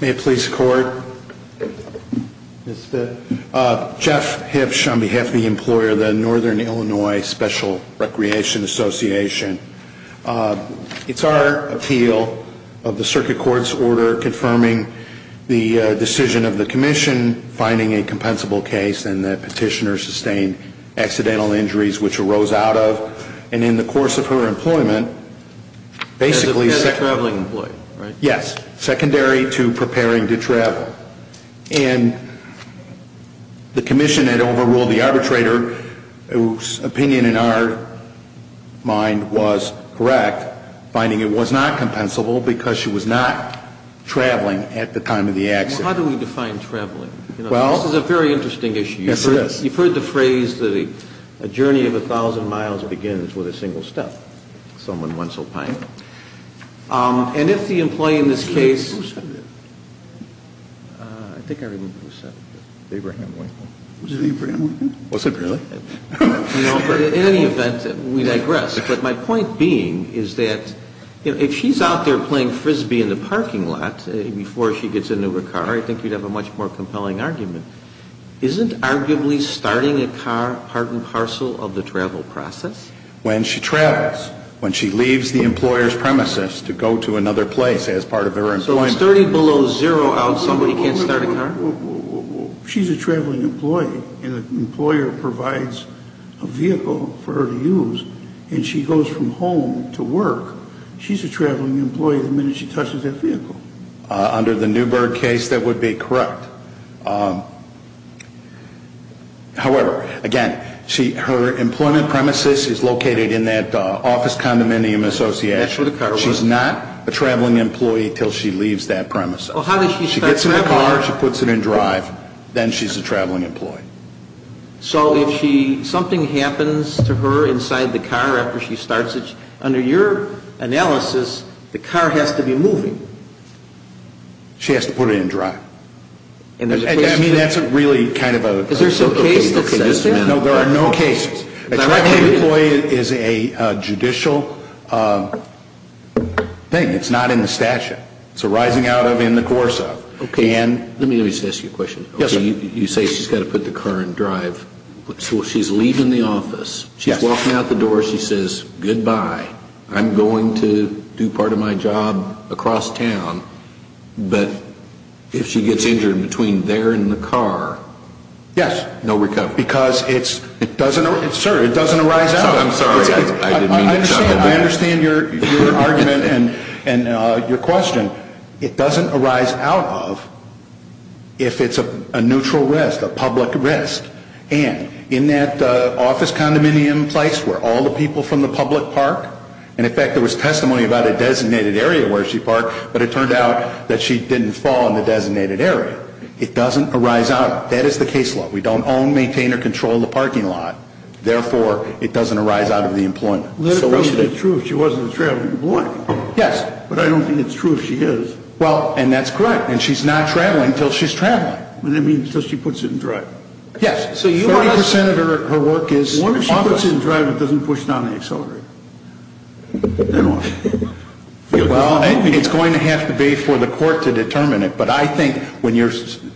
May it please the Court, Ms. Spitz, Jeff Hipsch on behalf of the Employer of the Northern Illinois Special Recreation Association. It's our appeal of the Circuit Court's order confirming the decision of the Commission finding a compensable case and that petitioner sustained accidental injuries which arose out of, and in the course of her employment, basically secondary to preparing to travel. And the Commission had overruled the arbitrator whose opinion in our mind was correct, finding it was not compensable because she was not traveling at the time of the accident. Well, how do we define traveling? Well This is a very interesting issue. Yes, it is. You've heard the phrase that a journey of a thousand miles begins with a single step, as someone once opined. And if the employee in this case, in any event, we digress. But my point being is that if she's out there playing Frisbee in the parking lot before she gets into her car, I think you'd have a much more compelling argument. Isn't arguably starting a car part and parcel of the travel process? When she travels, when she leaves the employer's premises to go to another place as part of her employment So it's 30 below zero out, somebody can't start a car? Well, she's a traveling employee, and the employer provides a vehicle for her to use. And she goes from home to work. She's a traveling employee the minute she touches that vehicle. Under the Newberg case, that would be correct. However, again, her employment premises is located in that office condominium association. That's where the car was. She's not a traveling employee until she leaves that premise. Well, how does she start traveling? She gets in the car, she puts it in drive, then she's a traveling employee. So if something happens to her inside the car after she starts it, under your analysis, the car has to be moving. She has to put it in drive. I mean, that's really kind of a Is there some case that says that? No, there are no cases. A traveling employee is a judicial thing. It's not in the statute. It's arising out of, in the course of. Yes, sir. You say she's got to put the car in drive. So she's leaving the office. She's walking out the door. She says, goodbye. I'm going to do part of my job across town. But if she gets injured between there and the car, Yes. No recovery. Because it doesn't, sir, it doesn't arise out of. I'm sorry. I understand your argument and your question. It doesn't arise out of if it's a neutral risk, a public risk. And in that office condominium place where all the people from the public park. And in fact, there was testimony about a designated area where she parked, but it turned out that she didn't fall in the designated area. It doesn't arise out. That is the case law. We don't own, maintain or control the parking lot. Therefore, it doesn't arise out of the employment. Let it be true if she wasn't a traveling employee. Yes. But I don't think it's true if she is. Well, and that's correct. And she's not traveling until she's traveling. I mean, until she puts it in drive. Yes. So you are. 30% of her work is. What if she puts it in drive and doesn't push down the accelerator? Well, it's going to have to be for the court to determine it. But I think when you're,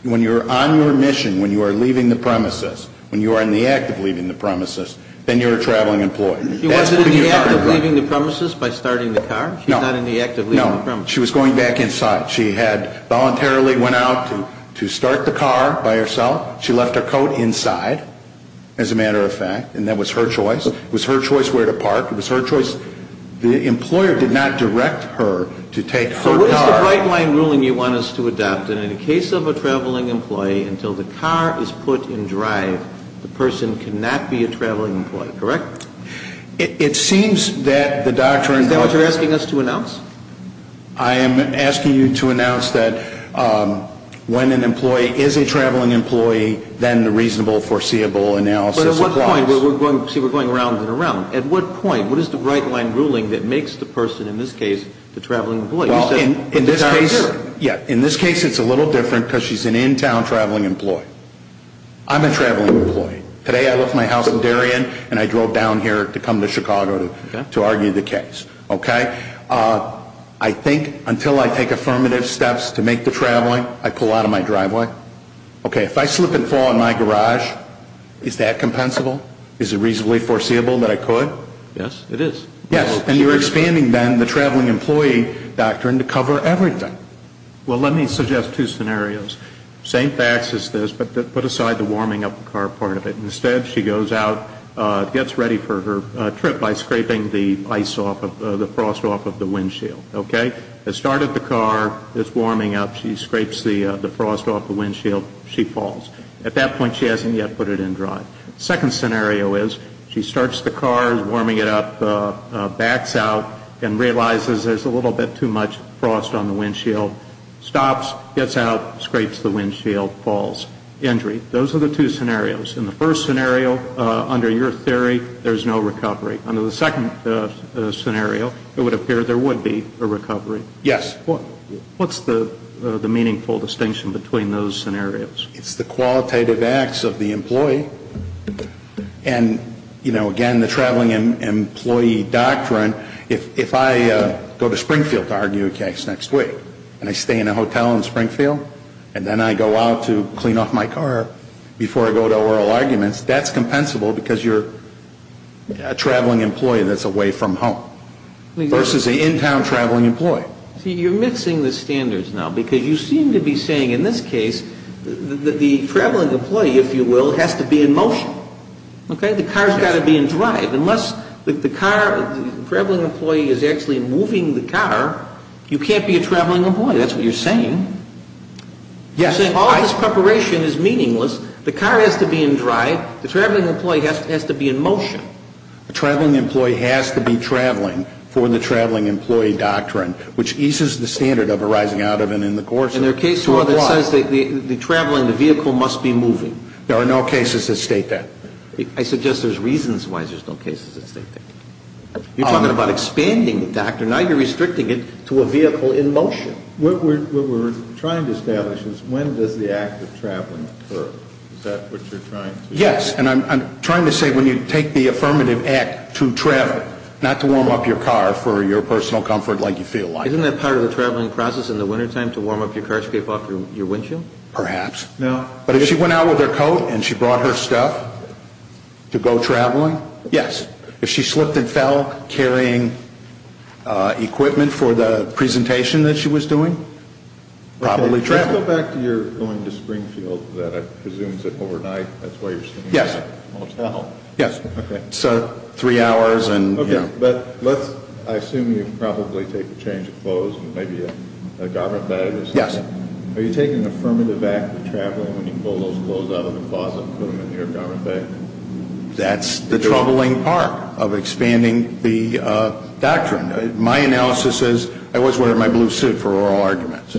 when you're on your mission, when you are leaving the premises, when you are in the act of leaving the premises, then you're a traveling employee. She wasn't in the act of leaving the premises by starting the car. She's not in the act of leaving the premises. No. She was going back inside. She had voluntarily went out to start the car by herself. She left her coat inside, as a matter of fact, and that was her choice. It was her choice where to park. It was her choice. The employer did not direct her to take her car. So what is the bright line ruling you want us to adopt? And in the case of a traveling employee, until the car is put in drive, the person cannot be a traveling employee, correct? It seems that the doctrine. Is that what you're asking us to announce? I am asking you to announce that when an employee is a traveling employee, then the reasonable, foreseeable analysis applies. But at what point, we're going, see, we're going around and around. At what point, what is the bright line ruling that makes the person, in this case, the traveling employee? Well, in this case, yeah. In this case, it's a little different because she's an in-town traveling employee. I'm a traveling employee. Today, I left my house in Darien and I drove down here to come to Chicago to argue the case, okay? I think until I take affirmative steps to make the traveling, I pull out of my driveway. Okay, if I slip and fall in my garage, is that compensable? Is it reasonably foreseeable that I could? Yes, it is. Yes, and you're expanding then the traveling employee doctrine to cover everything. Well, let me suggest two scenarios. Same facts as this, but put aside the warming up the car part of it. Instead, she goes out, gets ready for her trip by scraping the ice off of, the frost off of the windshield, okay? Has started the car, it's warming up, she scrapes the frost off the windshield, she falls. At that point, she hasn't yet put it in drive. Second scenario is, she starts the car, is warming it up, backs out, and realizes there's a little bit too much frost on the windshield. Stops, gets out, scrapes the windshield, falls. Injury. Those are the two scenarios. In the first scenario, under your theory, there's no recovery. Under the second scenario, it would appear there would be a recovery. Yes. What's the meaningful distinction between those scenarios? It's the qualitative acts of the employee. And, you know, again, the traveling employee doctrine, if I go to Springfield to argue a case next week, and I stay in a hotel in Springfield, and then I go out to clean off my car before I go to oral arguments, that's compensable because you're a traveling employee that's away from home. Versus an in-town traveling employee. See, you're mixing the standards now. Because you seem to be saying, in this case, the traveling employee, if you will, has to be in motion, okay? The car's got to be in drive. Unless the car, the traveling employee is actually moving the car, you can't be a traveling employee. That's what you're saying. Yes. You're saying all this preparation is meaningless. The car has to be in drive. The traveling employee has to be in motion. A traveling employee has to be traveling for the traveling employee doctrine, which eases the standard of arising out of and in the course of. And there are cases where it says the traveling, the vehicle must be moving. There are no cases that state that. I suggest there's reasons why there's no cases that state that. You're talking about expanding the doctrine. Now you're restricting it to a vehicle in motion. What we're trying to establish is when does the act of traveling occur? Is that what you're trying to say? Yes. And I'm trying to say when you take the affirmative act to travel, not to warm up your car for your personal comfort like you feel like. Isn't that part of the traveling process in the wintertime to warm up your car, scrape off your windshield? Perhaps. No. But if she went out with her coat and she brought her stuff to go traveling? Yes. If she slipped and fell carrying equipment for the presentation that she was doing? Probably traveling. Let's go back to your going to Springfield that I presume is overnight. That's why you're sleeping in a motel. Yes. Okay. So three hours and you know. But let's, I assume you probably take a change of clothes and maybe a garment that it is. Yes. Are you taking the affirmative act of traveling when you pull those clothes out of the closet and put them in the air garment bag? That's the troubling part of expanding the doctrine. My analysis is I was wearing my blue suit for oral arguments.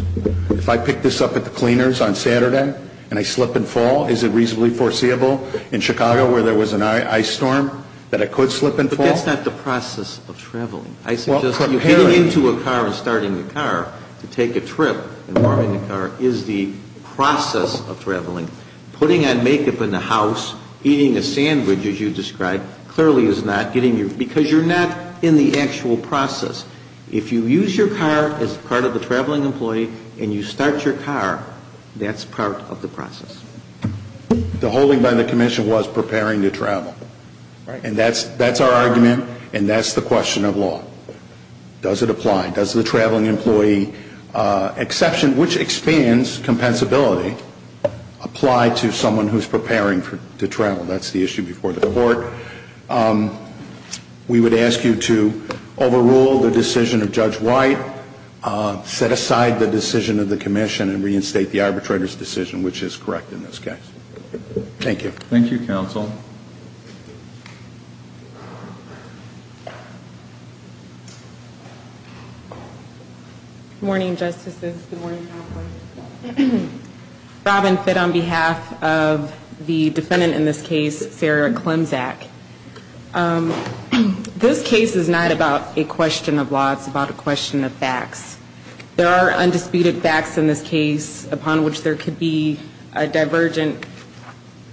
If I pick this up at the cleaners on Saturday and I slip and fall, is it reasonably foreseeable in Chicago where there was an ice storm that I could slip and fall? But that's not the process of traveling. I suggest getting into a car and starting the car to take a trip and warming the car is the process of traveling. Putting on makeup in the house, eating a sandwich as you described, clearly is not getting you, because you're not in the actual process. If you use your car as part of the traveling employee and you start your car, that's part of the process. The holding by the commission was preparing to travel. And that's our argument and that's the question of law. Does it apply? Does the traveling employee exception, which expands compensability, apply to someone who's preparing to travel? That's the issue before the court. We would ask you to overrule the decision of Judge White, set aside the decision of the commission and reinstate the arbitrator's decision, which is correct in this case. Thank you. Thank you, counsel. Good morning, Justices. Good morning, Counselor. Robin Fitt on behalf of the defendant in this case, Sarah Klimczak. This case is not about a question of law. It's about a question of facts. There are undisputed facts in this case upon which there could be a divergent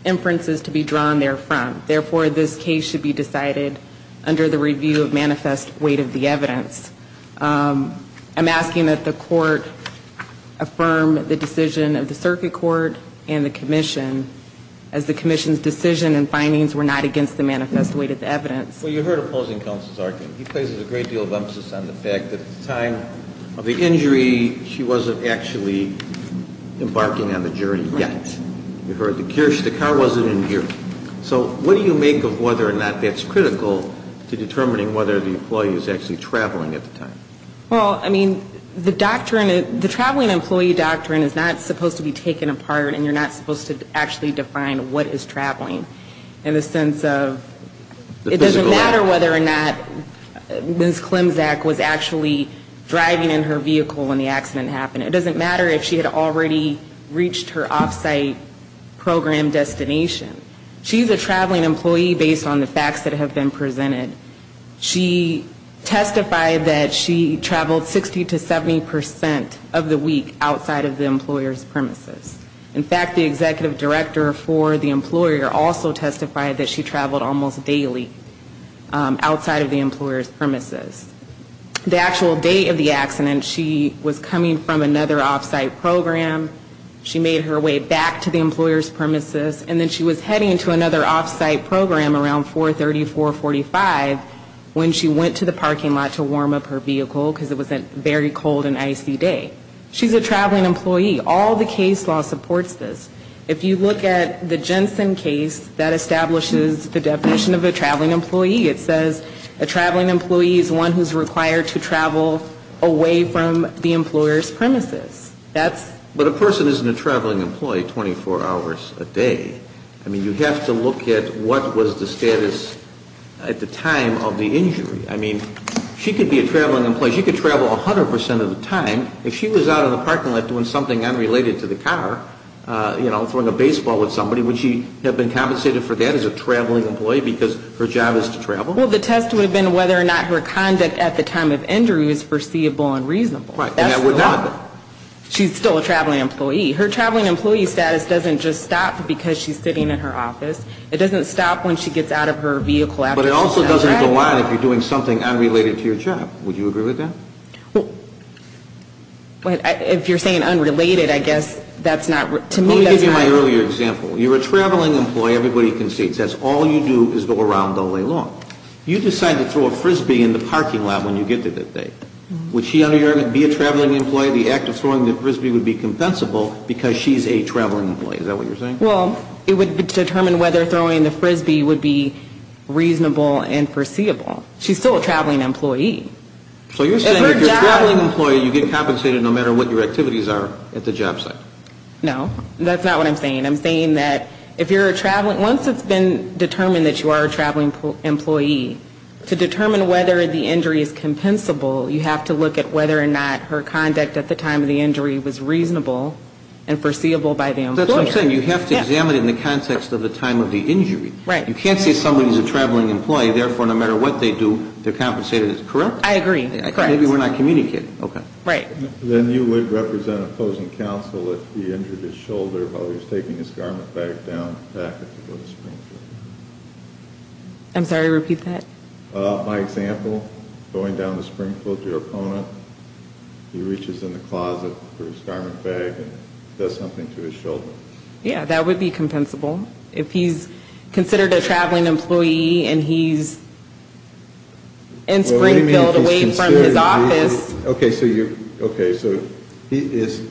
inferences to be drawn there from. Therefore, this case should be decided under the review of manifest weight of evidence. I'm asking that the court affirm the decision of the circuit court and the commission as the commission's decision and findings were not against the manifest weight of the evidence. Well, you heard opposing counsel's argument. He places a great deal of emphasis on the fact that at the time of the injury, she wasn't actually embarking on the journey yet. You heard the cure, the car wasn't in gear. So what do you make of whether or not that's critical to determining whether the employee is actually on the journey? Or was she traveling at the time? Well, I mean, the doctrine, the traveling employee doctrine is not supposed to be taken apart and you're not supposed to actually define what is traveling in the sense of it doesn't matter whether or not Ms. Klimczak was actually driving in her vehicle when the accident happened. It doesn't matter if she had already reached her off-site program destination. She's a traveling employee based on the facts that have been presented. She testified that she traveled 60 to 70% of the week outside of the employer's premises. In fact, the executive director for the employer also testified that she traveled almost daily outside of the employer's premises. The actual date of the accident, she was coming from another off-site program. She made her way back to the employer's premises. And then she was heading to another off-site program around 430, 445 when she went to the parking lot to warm up her vehicle because it was a very cold and icy day. She's a traveling employee. All the case law supports this. If you look at the Jensen case, that establishes the definition of a traveling employee. It says a traveling employee is one who's required to travel away from the employer's premises. But a person isn't a traveling employee 24 hours a day. I mean, you have to look at what was the status at the time of the injury. I mean, she could be a traveling employee. She could travel 100% of the time. If she was out of the parking lot doing something unrelated to the car, you know, throwing a baseball at somebody, would she have been compensated for that as a traveling employee because her job is to travel? Well, the test would have been whether or not her conduct at the time of injury was foreseeable and reasonable. Right. And that would not have been. She's still a traveling employee. Her traveling employee status doesn't just stop because she's sitting in her office. It doesn't stop when she gets out of her vehicle. But it also doesn't go on if you're doing something unrelated to your job. Would you agree with that? Well, if you're saying unrelated, I guess that's not, to me, that's not. Let me give you my earlier example. You're a traveling employee. Everybody concedes. That's all you do is go around the lay law. You decide to throw a Frisbee in the parking lot when you get to that day. Would she under your argument be a traveling employee? The act of throwing the Frisbee would be compensable because she's a traveling employee. Is that what you're saying? Well, it would determine whether throwing the Frisbee would be reasonable and foreseeable. She's still a traveling employee. So you're saying if you're a traveling employee, you get compensated no matter what your activities are at the job site. No, that's not what I'm saying. I'm saying that if you're a traveling, once it's been determined that you are a traveling employee, to determine whether the injury is compensable, you have to look at whether or not her conduct at the time of the injury was reasonable and foreseeable by the employer. That's what I'm saying. You have to examine it in the context of the time of the injury. Right. You can't say somebody's a traveling employee. Therefore, no matter what they do, their compensated is correct. I agree. Correct. Maybe we're not communicating. Okay. Right. Then you would represent opposing counsel if he injured his shoulder while he was taking his garment bag down back at the Supreme Court. I'm sorry. Repeat that. My example, going down to Springfield to your opponent, he reaches in the closet for his garment bag and does something to his shoulder. Yeah, that would be compensable. If he's considered a traveling employee and he's in Springfield away from his office. Okay. So you're okay. So he is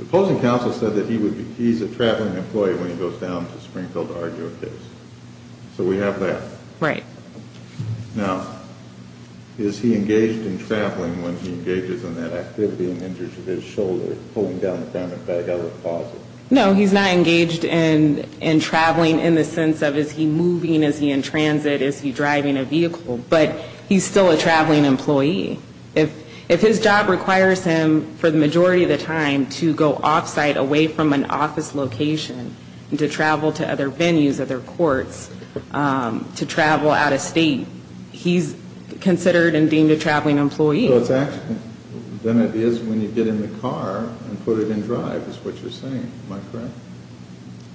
opposing counsel said that he would be he's a traveling employee when he goes down to Springfield to argue a case. So we have that. Right. Now, is he engaged in traveling when he engages in that activity and injures his shoulder pulling down the garment bag out of the closet? No, he's not engaged in traveling in the sense of is he moving? Is he in transit? Is he driving a vehicle? But he's still a traveling employee. If his job requires him for the majority of the time to go off site away from an office location, to travel to other venues, other courts, to travel out of state, he's considered and deemed a traveling employee. So it's actually, then it is when you get in the car and put it in drive is what you're saying. Am I correct?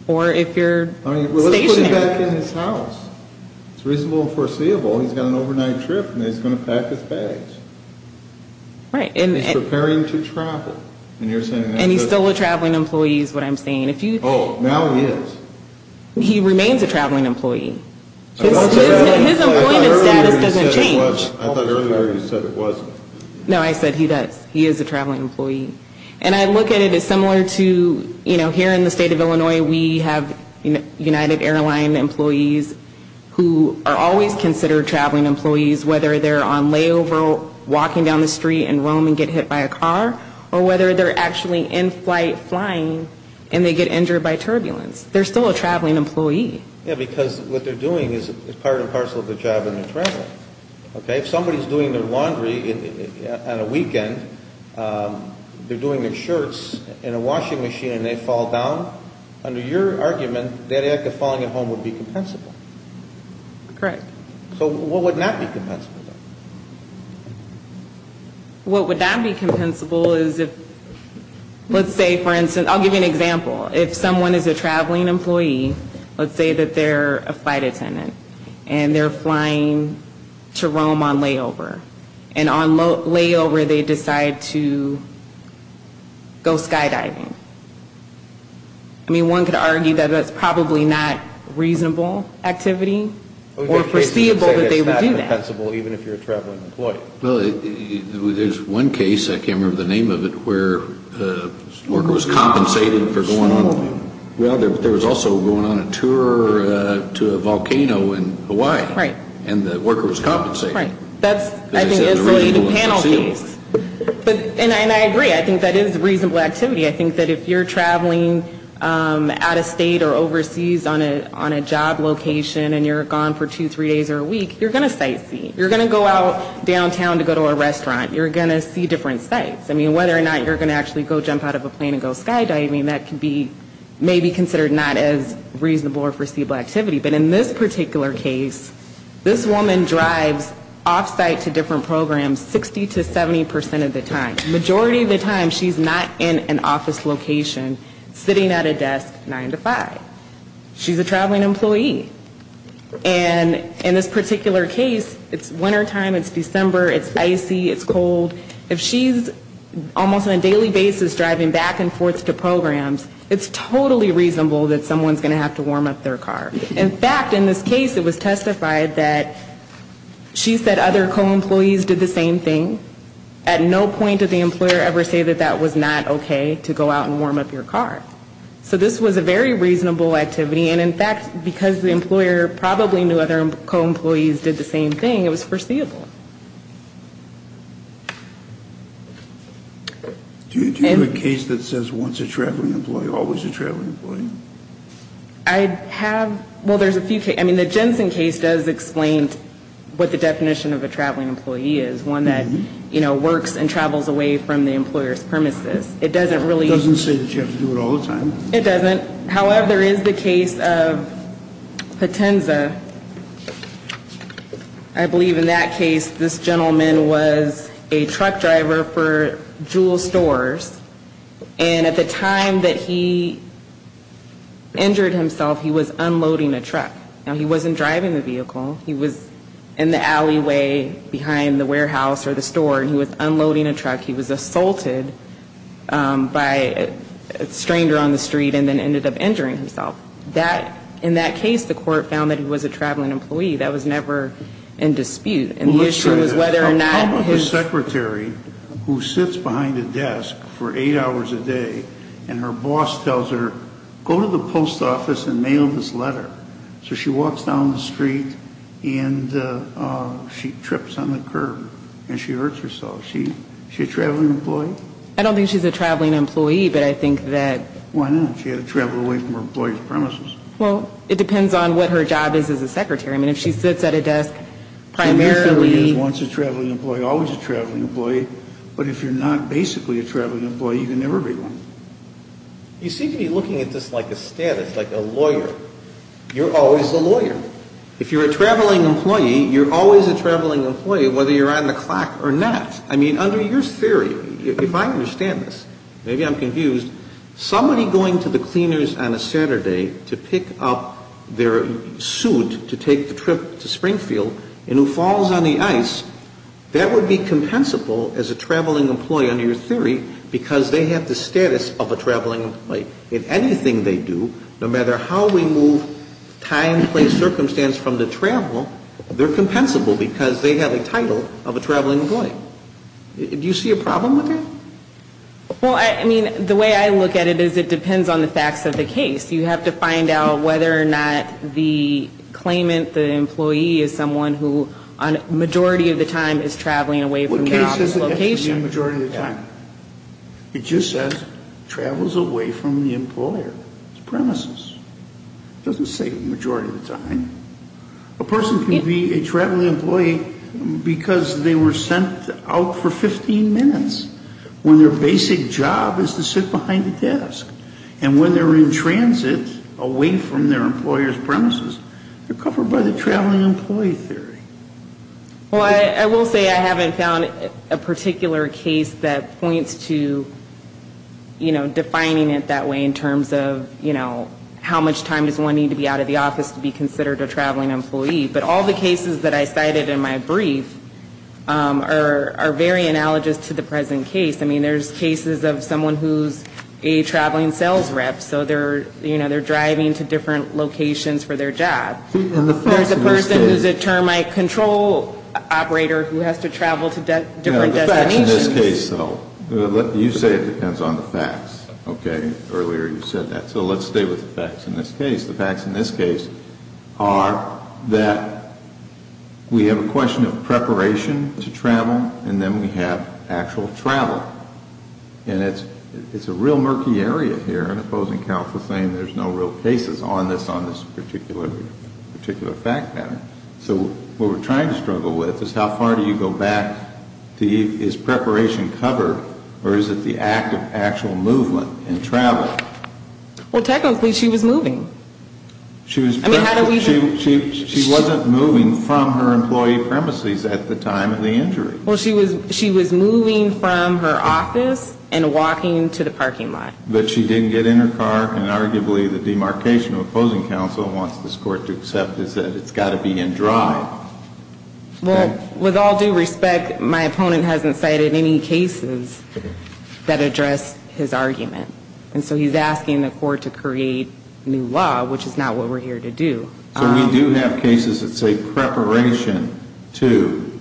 Or if you're stationary. Let's put it back in his house. It's reasonable and foreseeable. He's got an overnight trip and he's going to pack his bags. Right. And preparing to travel. And you're saying and he's still a traveling employee is what I'm saying. If you oh, now he is. He remains a traveling employee. His employment status doesn't change. I thought earlier you said it wasn't. No, I said he does. He is a traveling employee. And I look at it as similar to, you know, here in the state of Illinois, we have, you know, United Airline employees who are always considered traveling employees. Whether they're on layover, walking down the street and roam and get hit by a car, or whether they're actually in flight flying and they get injured by turbulence. They're still a traveling employee. Yeah, because what they're doing is part and parcel of the job and they're traveling. Okay, if somebody's doing their laundry on a weekend, they're doing their shirts in a washing machine and they fall down, under your argument, that act of falling at home would be compensable. Correct. So what would not be compensable? What would not be compensable is if, let's say for instance, I'll give you an example. If someone is a traveling employee, let's say that they're a flight attendant and they're flying to Rome on layover and on layover they decide to go skydiving. I mean, one could argue that that's probably not reasonable activity or foreseeable that they would do that. Even if you're a traveling employee. Well, there's one case, I can't remember the name of it, where a worker was compensated for going on a, well, there was also going on a tour to a volcano in Hawaii. Right. And the worker was compensated. Right. That's, I think, a panel case. And I agree, I think that is reasonable activity. I think that if you're traveling out of state or overseas on a job location and you're gone for two, three days or a week, you're going to sightsee. You're going to go out downtown to go to a restaurant. You're going to see different sights. I mean, whether or not you're going to actually go jump out of a plane and go skydiving, that could be maybe considered not as reasonable or foreseeable activity. But in this particular case, this woman drives offsite to different programs 60 to 70% of the time. Majority of the time, she's not in an office location sitting at a desk 9 to 5. She's a traveling employee. And in this particular case, it's wintertime, it's December, it's icy, it's cold. If she's almost on a daily basis driving back and forth to programs, it's totally reasonable that someone's going to have to warm up their car. In fact, in this case, it was testified that she said other co-employees did the same thing. At no point did the employer ever say that that was not okay to go out and warm up your car. So this was a very reasonable activity. And in fact, because the employer probably knew other co-employees did the same thing, it was foreseeable. Do you have a case that says once a traveling employee, always a traveling employee? I have, well, there's a few cases. I mean, the Jensen case does explain what the definition of a traveling employee is. One that works and travels away from the employer's premises. It doesn't really- Doesn't say that you have to do it all the time. It doesn't. However, there is the case of Potenza. I believe in that case, this gentleman was a truck driver for Jewel Stores. And at the time that he injured himself, he was unloading a truck. Now, he wasn't driving the vehicle. He was in the alleyway behind the warehouse or the store, and he was unloading a truck. He was assaulted by a stranger on the street and then ended up injuring himself. That, in that case, the court found that he was a traveling employee. That was never in dispute. And the issue was whether or not his- And her boss tells her, go to the post office and mail this letter. So she walks down the street, and she trips on the curb, and she hurts herself. Is she a traveling employee? I don't think she's a traveling employee, but I think that- Why not? She had to travel away from her employee's premises. Well, it depends on what her job is as a secretary. I mean, if she sits at a desk primarily- If she wants a traveling employee, always a traveling employee. But if you're not basically a traveling employee, you can never be one. You seem to be looking at this like a status, like a lawyer. You're always a lawyer. If you're a traveling employee, you're always a traveling employee, whether you're on the clock or not. I mean, under your theory, if I understand this, maybe I'm confused, somebody going to the cleaners on a Saturday to pick up their suit to take the trip to Springfield, and who falls on the ice, that would be compensable as a traveling employee, under your theory, because they have the status of a traveling employee. If anything they do, no matter how we move time, place, circumstance from the travel, they're compensable because they have a title of a traveling employee. Do you see a problem with that? Well, I mean, the way I look at it is it depends on the facts of the case. You have to find out whether or not the claimant, the employee, is someone who, a majority of the time, is traveling away from their office location. It doesn't have to be a majority of the time. It just says, travels away from the employer. It's premises. It doesn't say majority of the time. A person can be a traveling employee because they were sent out for 15 minutes, when their basic job is to sit behind a desk. And when they're in transit, away from their employer's premises, they're covered by the traveling employee theory. Well, I will say I haven't found a particular case that points to, you know, defining it that way in terms of, you know, how much time does one need to be out of the office to be considered a traveling employee. But all the cases that I cited in my brief are very analogous to the present case. I mean, there's cases of someone who's a traveling sales rep. So they're, you know, they're driving to different locations for their job. Or the person who's a termite control operator who has to travel to different destinations. In this case, though, you say it depends on the facts. Okay, earlier you said that. So let's stay with the facts in this case. The facts in this case are that we have a question of preparation to travel, and then we have actual travel. And it's a real murky area here in opposing counsel saying there's no real cases on this, on this particular fact pattern. So what we're trying to struggle with is how far do you go back to, is preparation covered, or is it the act of actual movement and travel? Well, technically, she was moving. She wasn't moving from her employee premises at the time of the injury. Well, she was, she was moving from her office and walking to the parking lot. But she didn't get in her car, and arguably the demarcation of opposing counsel wants this court to accept is that it's got to be in drive. Well, with all due respect, my opponent hasn't cited any cases that address his argument. And so he's asking the court to create new law, which is not what we're here to do. So we do have cases that say preparation to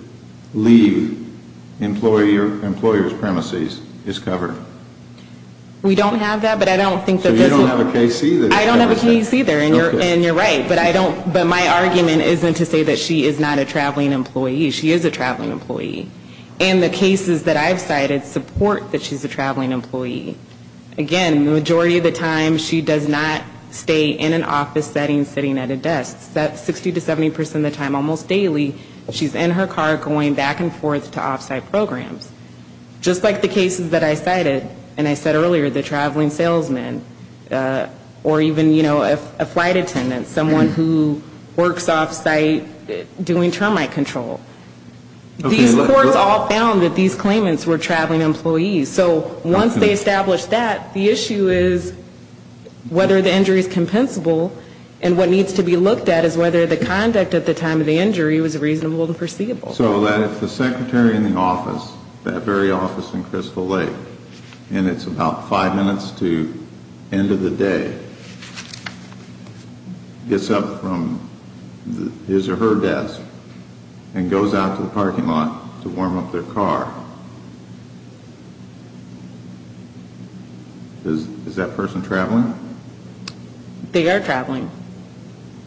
leave employee or employer's premises is covered. We don't have that, but I don't think that this is. So you don't have a case either? I don't have a case either, and you're right. But I don't, but my argument isn't to say that she is not a traveling employee. She is a traveling employee. And the cases that I've cited support that she's a traveling employee. Again, the majority of the time, she does not stay in an office setting sitting at a desk. That's 60 to 70% of the time, almost daily, she's in her car going back and forth to off-site programs. Just like the cases that I cited, and I said earlier, the traveling salesman or even, you know, a flight attendant, someone who works off-site doing termite control. These courts all found that these claimants were traveling employees. So once they established that, the issue is whether the injury is compensable, and what needs to be looked at is whether the conduct at the time of the injury was reasonable to foreseeable. So that if the secretary in the office, that very office in Crystal Lake, and it's about five minutes to end of the day, gets up from his or her desk, and goes out to the parking lot to warm up their car, is that person traveling? They are traveling.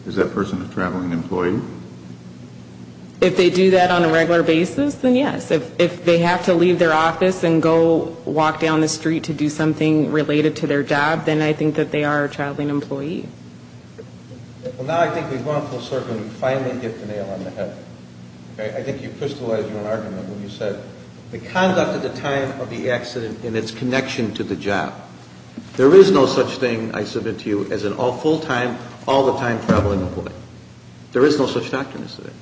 Is that person a traveling employee? If they do that on a regular basis, then yes. If they have to leave their office and go walk down the street to do something related to their job, then I think that they are a traveling employee. Well, now I think we've gone full circle and we finally get the nail on the head. I think you crystallized your argument when you said the conduct at the time of the accident and its connection to the job. There is no such thing, I submit to you, as an all full-time, all-the-time-traveling employee. There is no such doctrine as that.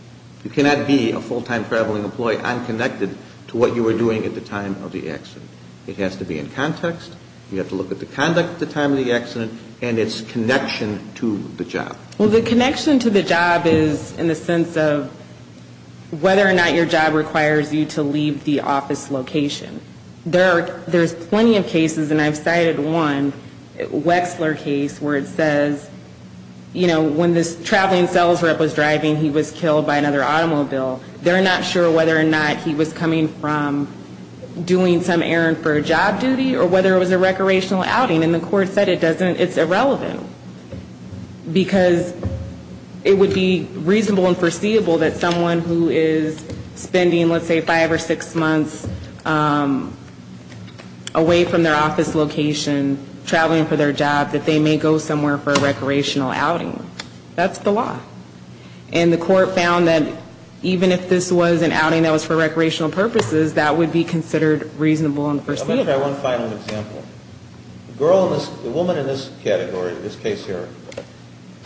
You cannot be a full-time traveling employee unconnected to what you were doing at the time of the accident. It has to be in context, you have to look at the conduct at the time of the accident, and its connection to the job. Well, the connection to the job is in the sense of whether or not your job requires you to leave the office location. There's plenty of cases, and I've cited one, Wexler case, where it says when this traveling sales rep was driving, he was killed by another automobile. They're not sure whether or not he was coming from doing some errand for a job duty, or whether it was a recreational outing, and the court said it's irrelevant. Because it would be reasonable and foreseeable that someone who is spending, let's say, five or six months away from their office location, traveling for their job, that they may go somewhere for a recreational outing. That's the law. And the court found that even if this was an outing that was for recreational purposes, that would be considered reasonable and foreseeable. Let me try one final example. The woman in this category, in this case here,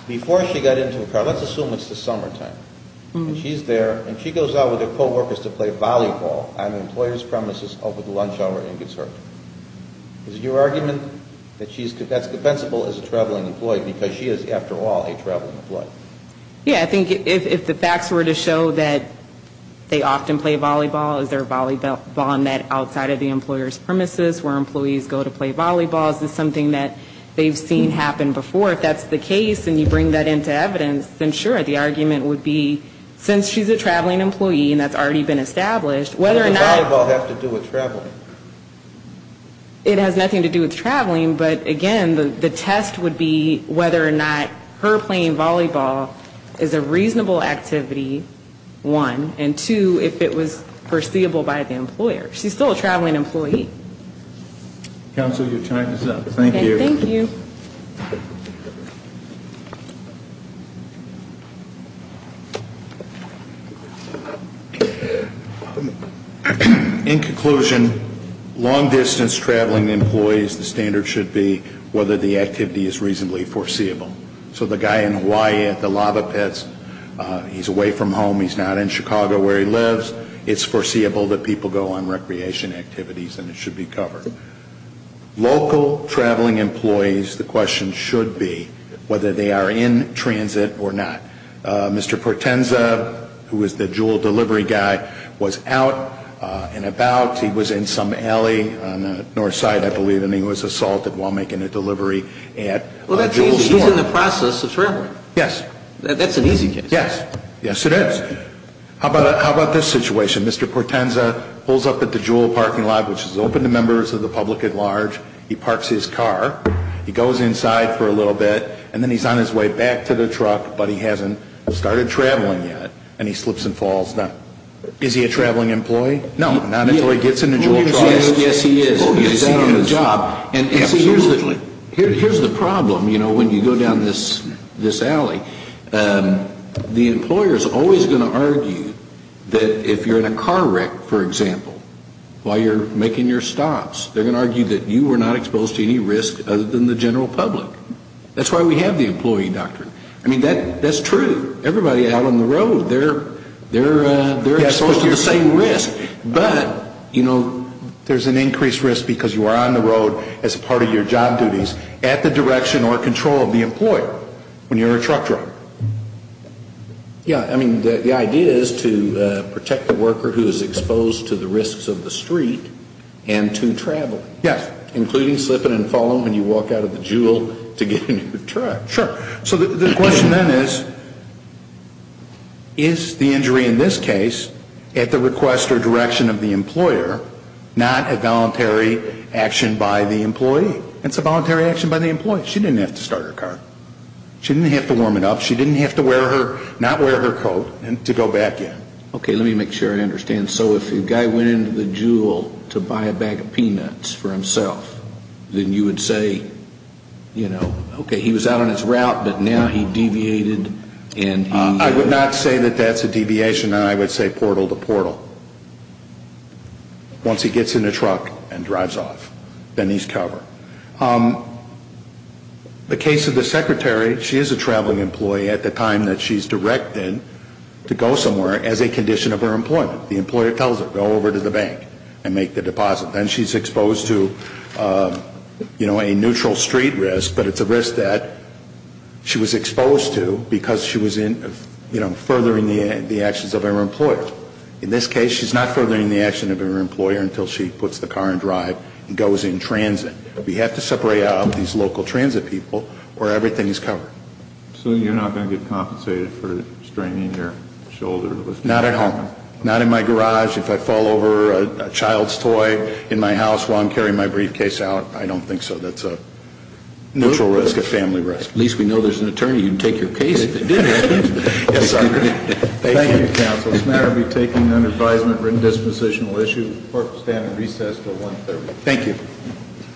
before she got into the car, let's assume it's the summertime, and she's there, and she goes out with her co-workers to play volleyball on an employer's premises over the lunch hour and gets hurt. Is it your argument that that's defensible as a traveling employee, because she is, after all, a traveling employee? Yeah, I think if the facts were to show that they often play volleyball, is there a volleyball net outside of the employer's premises where employees go to play volleyball? Is this something that they've seen happen before? If that's the case, and you bring that into evidence, then sure, the argument would be, since she's a traveling employee, and that's already been established, whether or not... Does volleyball have to do with traveling? It has nothing to do with traveling. But again, the test would be whether or not her playing volleyball is a reasonable activity, one, and two, if it was foreseeable by the employer. She's still a traveling employee. Counsel, your time is up. Thank you. Thank you. In conclusion, long-distance traveling employees, the standard should be whether the activity is reasonably foreseeable. So the guy in Hawaii at the Lava Pets, he's away from home, he's not in Chicago where he lives, it's foreseeable that people go on recreation activities, and it should be covered. Local traveling employees, the question should be whether they are a reasonable activity. Whether they are in transit or not. Mr. Portenza, who is the JUUL delivery guy, was out and about. He was in some alley on the north side, I believe, and he was assaulted while making a delivery at JUUL store. Well, that means she's in the process of traveling. Yes. That's an easy case. Yes. Yes, it is. How about this situation? Mr. Portenza pulls up at the JUUL parking lot, which is open to members of the public at large. He parks his car, he goes inside for a little bit, and then he's on his way back to the truck, but he hasn't started traveling yet, and he slips and falls. Now, is he a traveling employee? No, not until he gets in a JUUL truck. Yes, he is. He's out on the job. Absolutely. Here's the problem, you know, when you go down this alley. The employer is always going to argue that if you're in a car wreck, for example, while you're making your stops, they're going to argue that you were not exposed to any risk other than the general public. That's why we have the employee doctrine. I mean, that's true. Everybody out on the road, they're exposed to the same risk. But, you know, there's an increased risk because you are on the road as part of your job duties, at the direction or control of the employer when you're in a truck driver. Yeah, I mean, the idea is to protect the worker who is exposed to the risks of the street and to traveling. Yes. Including slipping and falling when you walk out of the JUUL to get in your truck. Sure. So the question then is, is the injury in this case at the request or direction of the employer, not a voluntary action by the employee? It's a voluntary action by the employee. She didn't have to start her car. She didn't have to warm it up. She didn't have to wear her, not wear her coat to go back in. Okay, let me make sure I understand. So if a guy went into the JUUL to buy a bag of peanuts for himself, then you would say, you know, okay, he was out on his route, but now he deviated and he... I would not say that that's a deviation. I would say portal to portal. Once he gets in the truck and drives off, then he's covered. The case of the secretary, she is a traveling employee at the time that she's directed to go somewhere as a condition of her employment. The employer tells her, go over to the bank and make the deposit. Then she's exposed to, you know, a neutral street risk, but it's a risk that she was exposed to because she was in, you know, furthering the actions of her employer. In this case, she's not furthering the actions of her employer until she puts the car in drive and goes in transit. We have to separate out these local transit people or everything is covered. So you're not going to get compensated for straining your shoulder? Not at home. Not in my garage. If I fall over a child's toy in my house while I'm carrying my briefcase out, I don't think so. That's a neutral risk, a family risk. At least we know there's an attorney who can take your case. Yes, sir. Thank you, counsel. This matter will be taken under advisement for a dispositional issue. Court will stand at recess until 1 p.m. Thank you.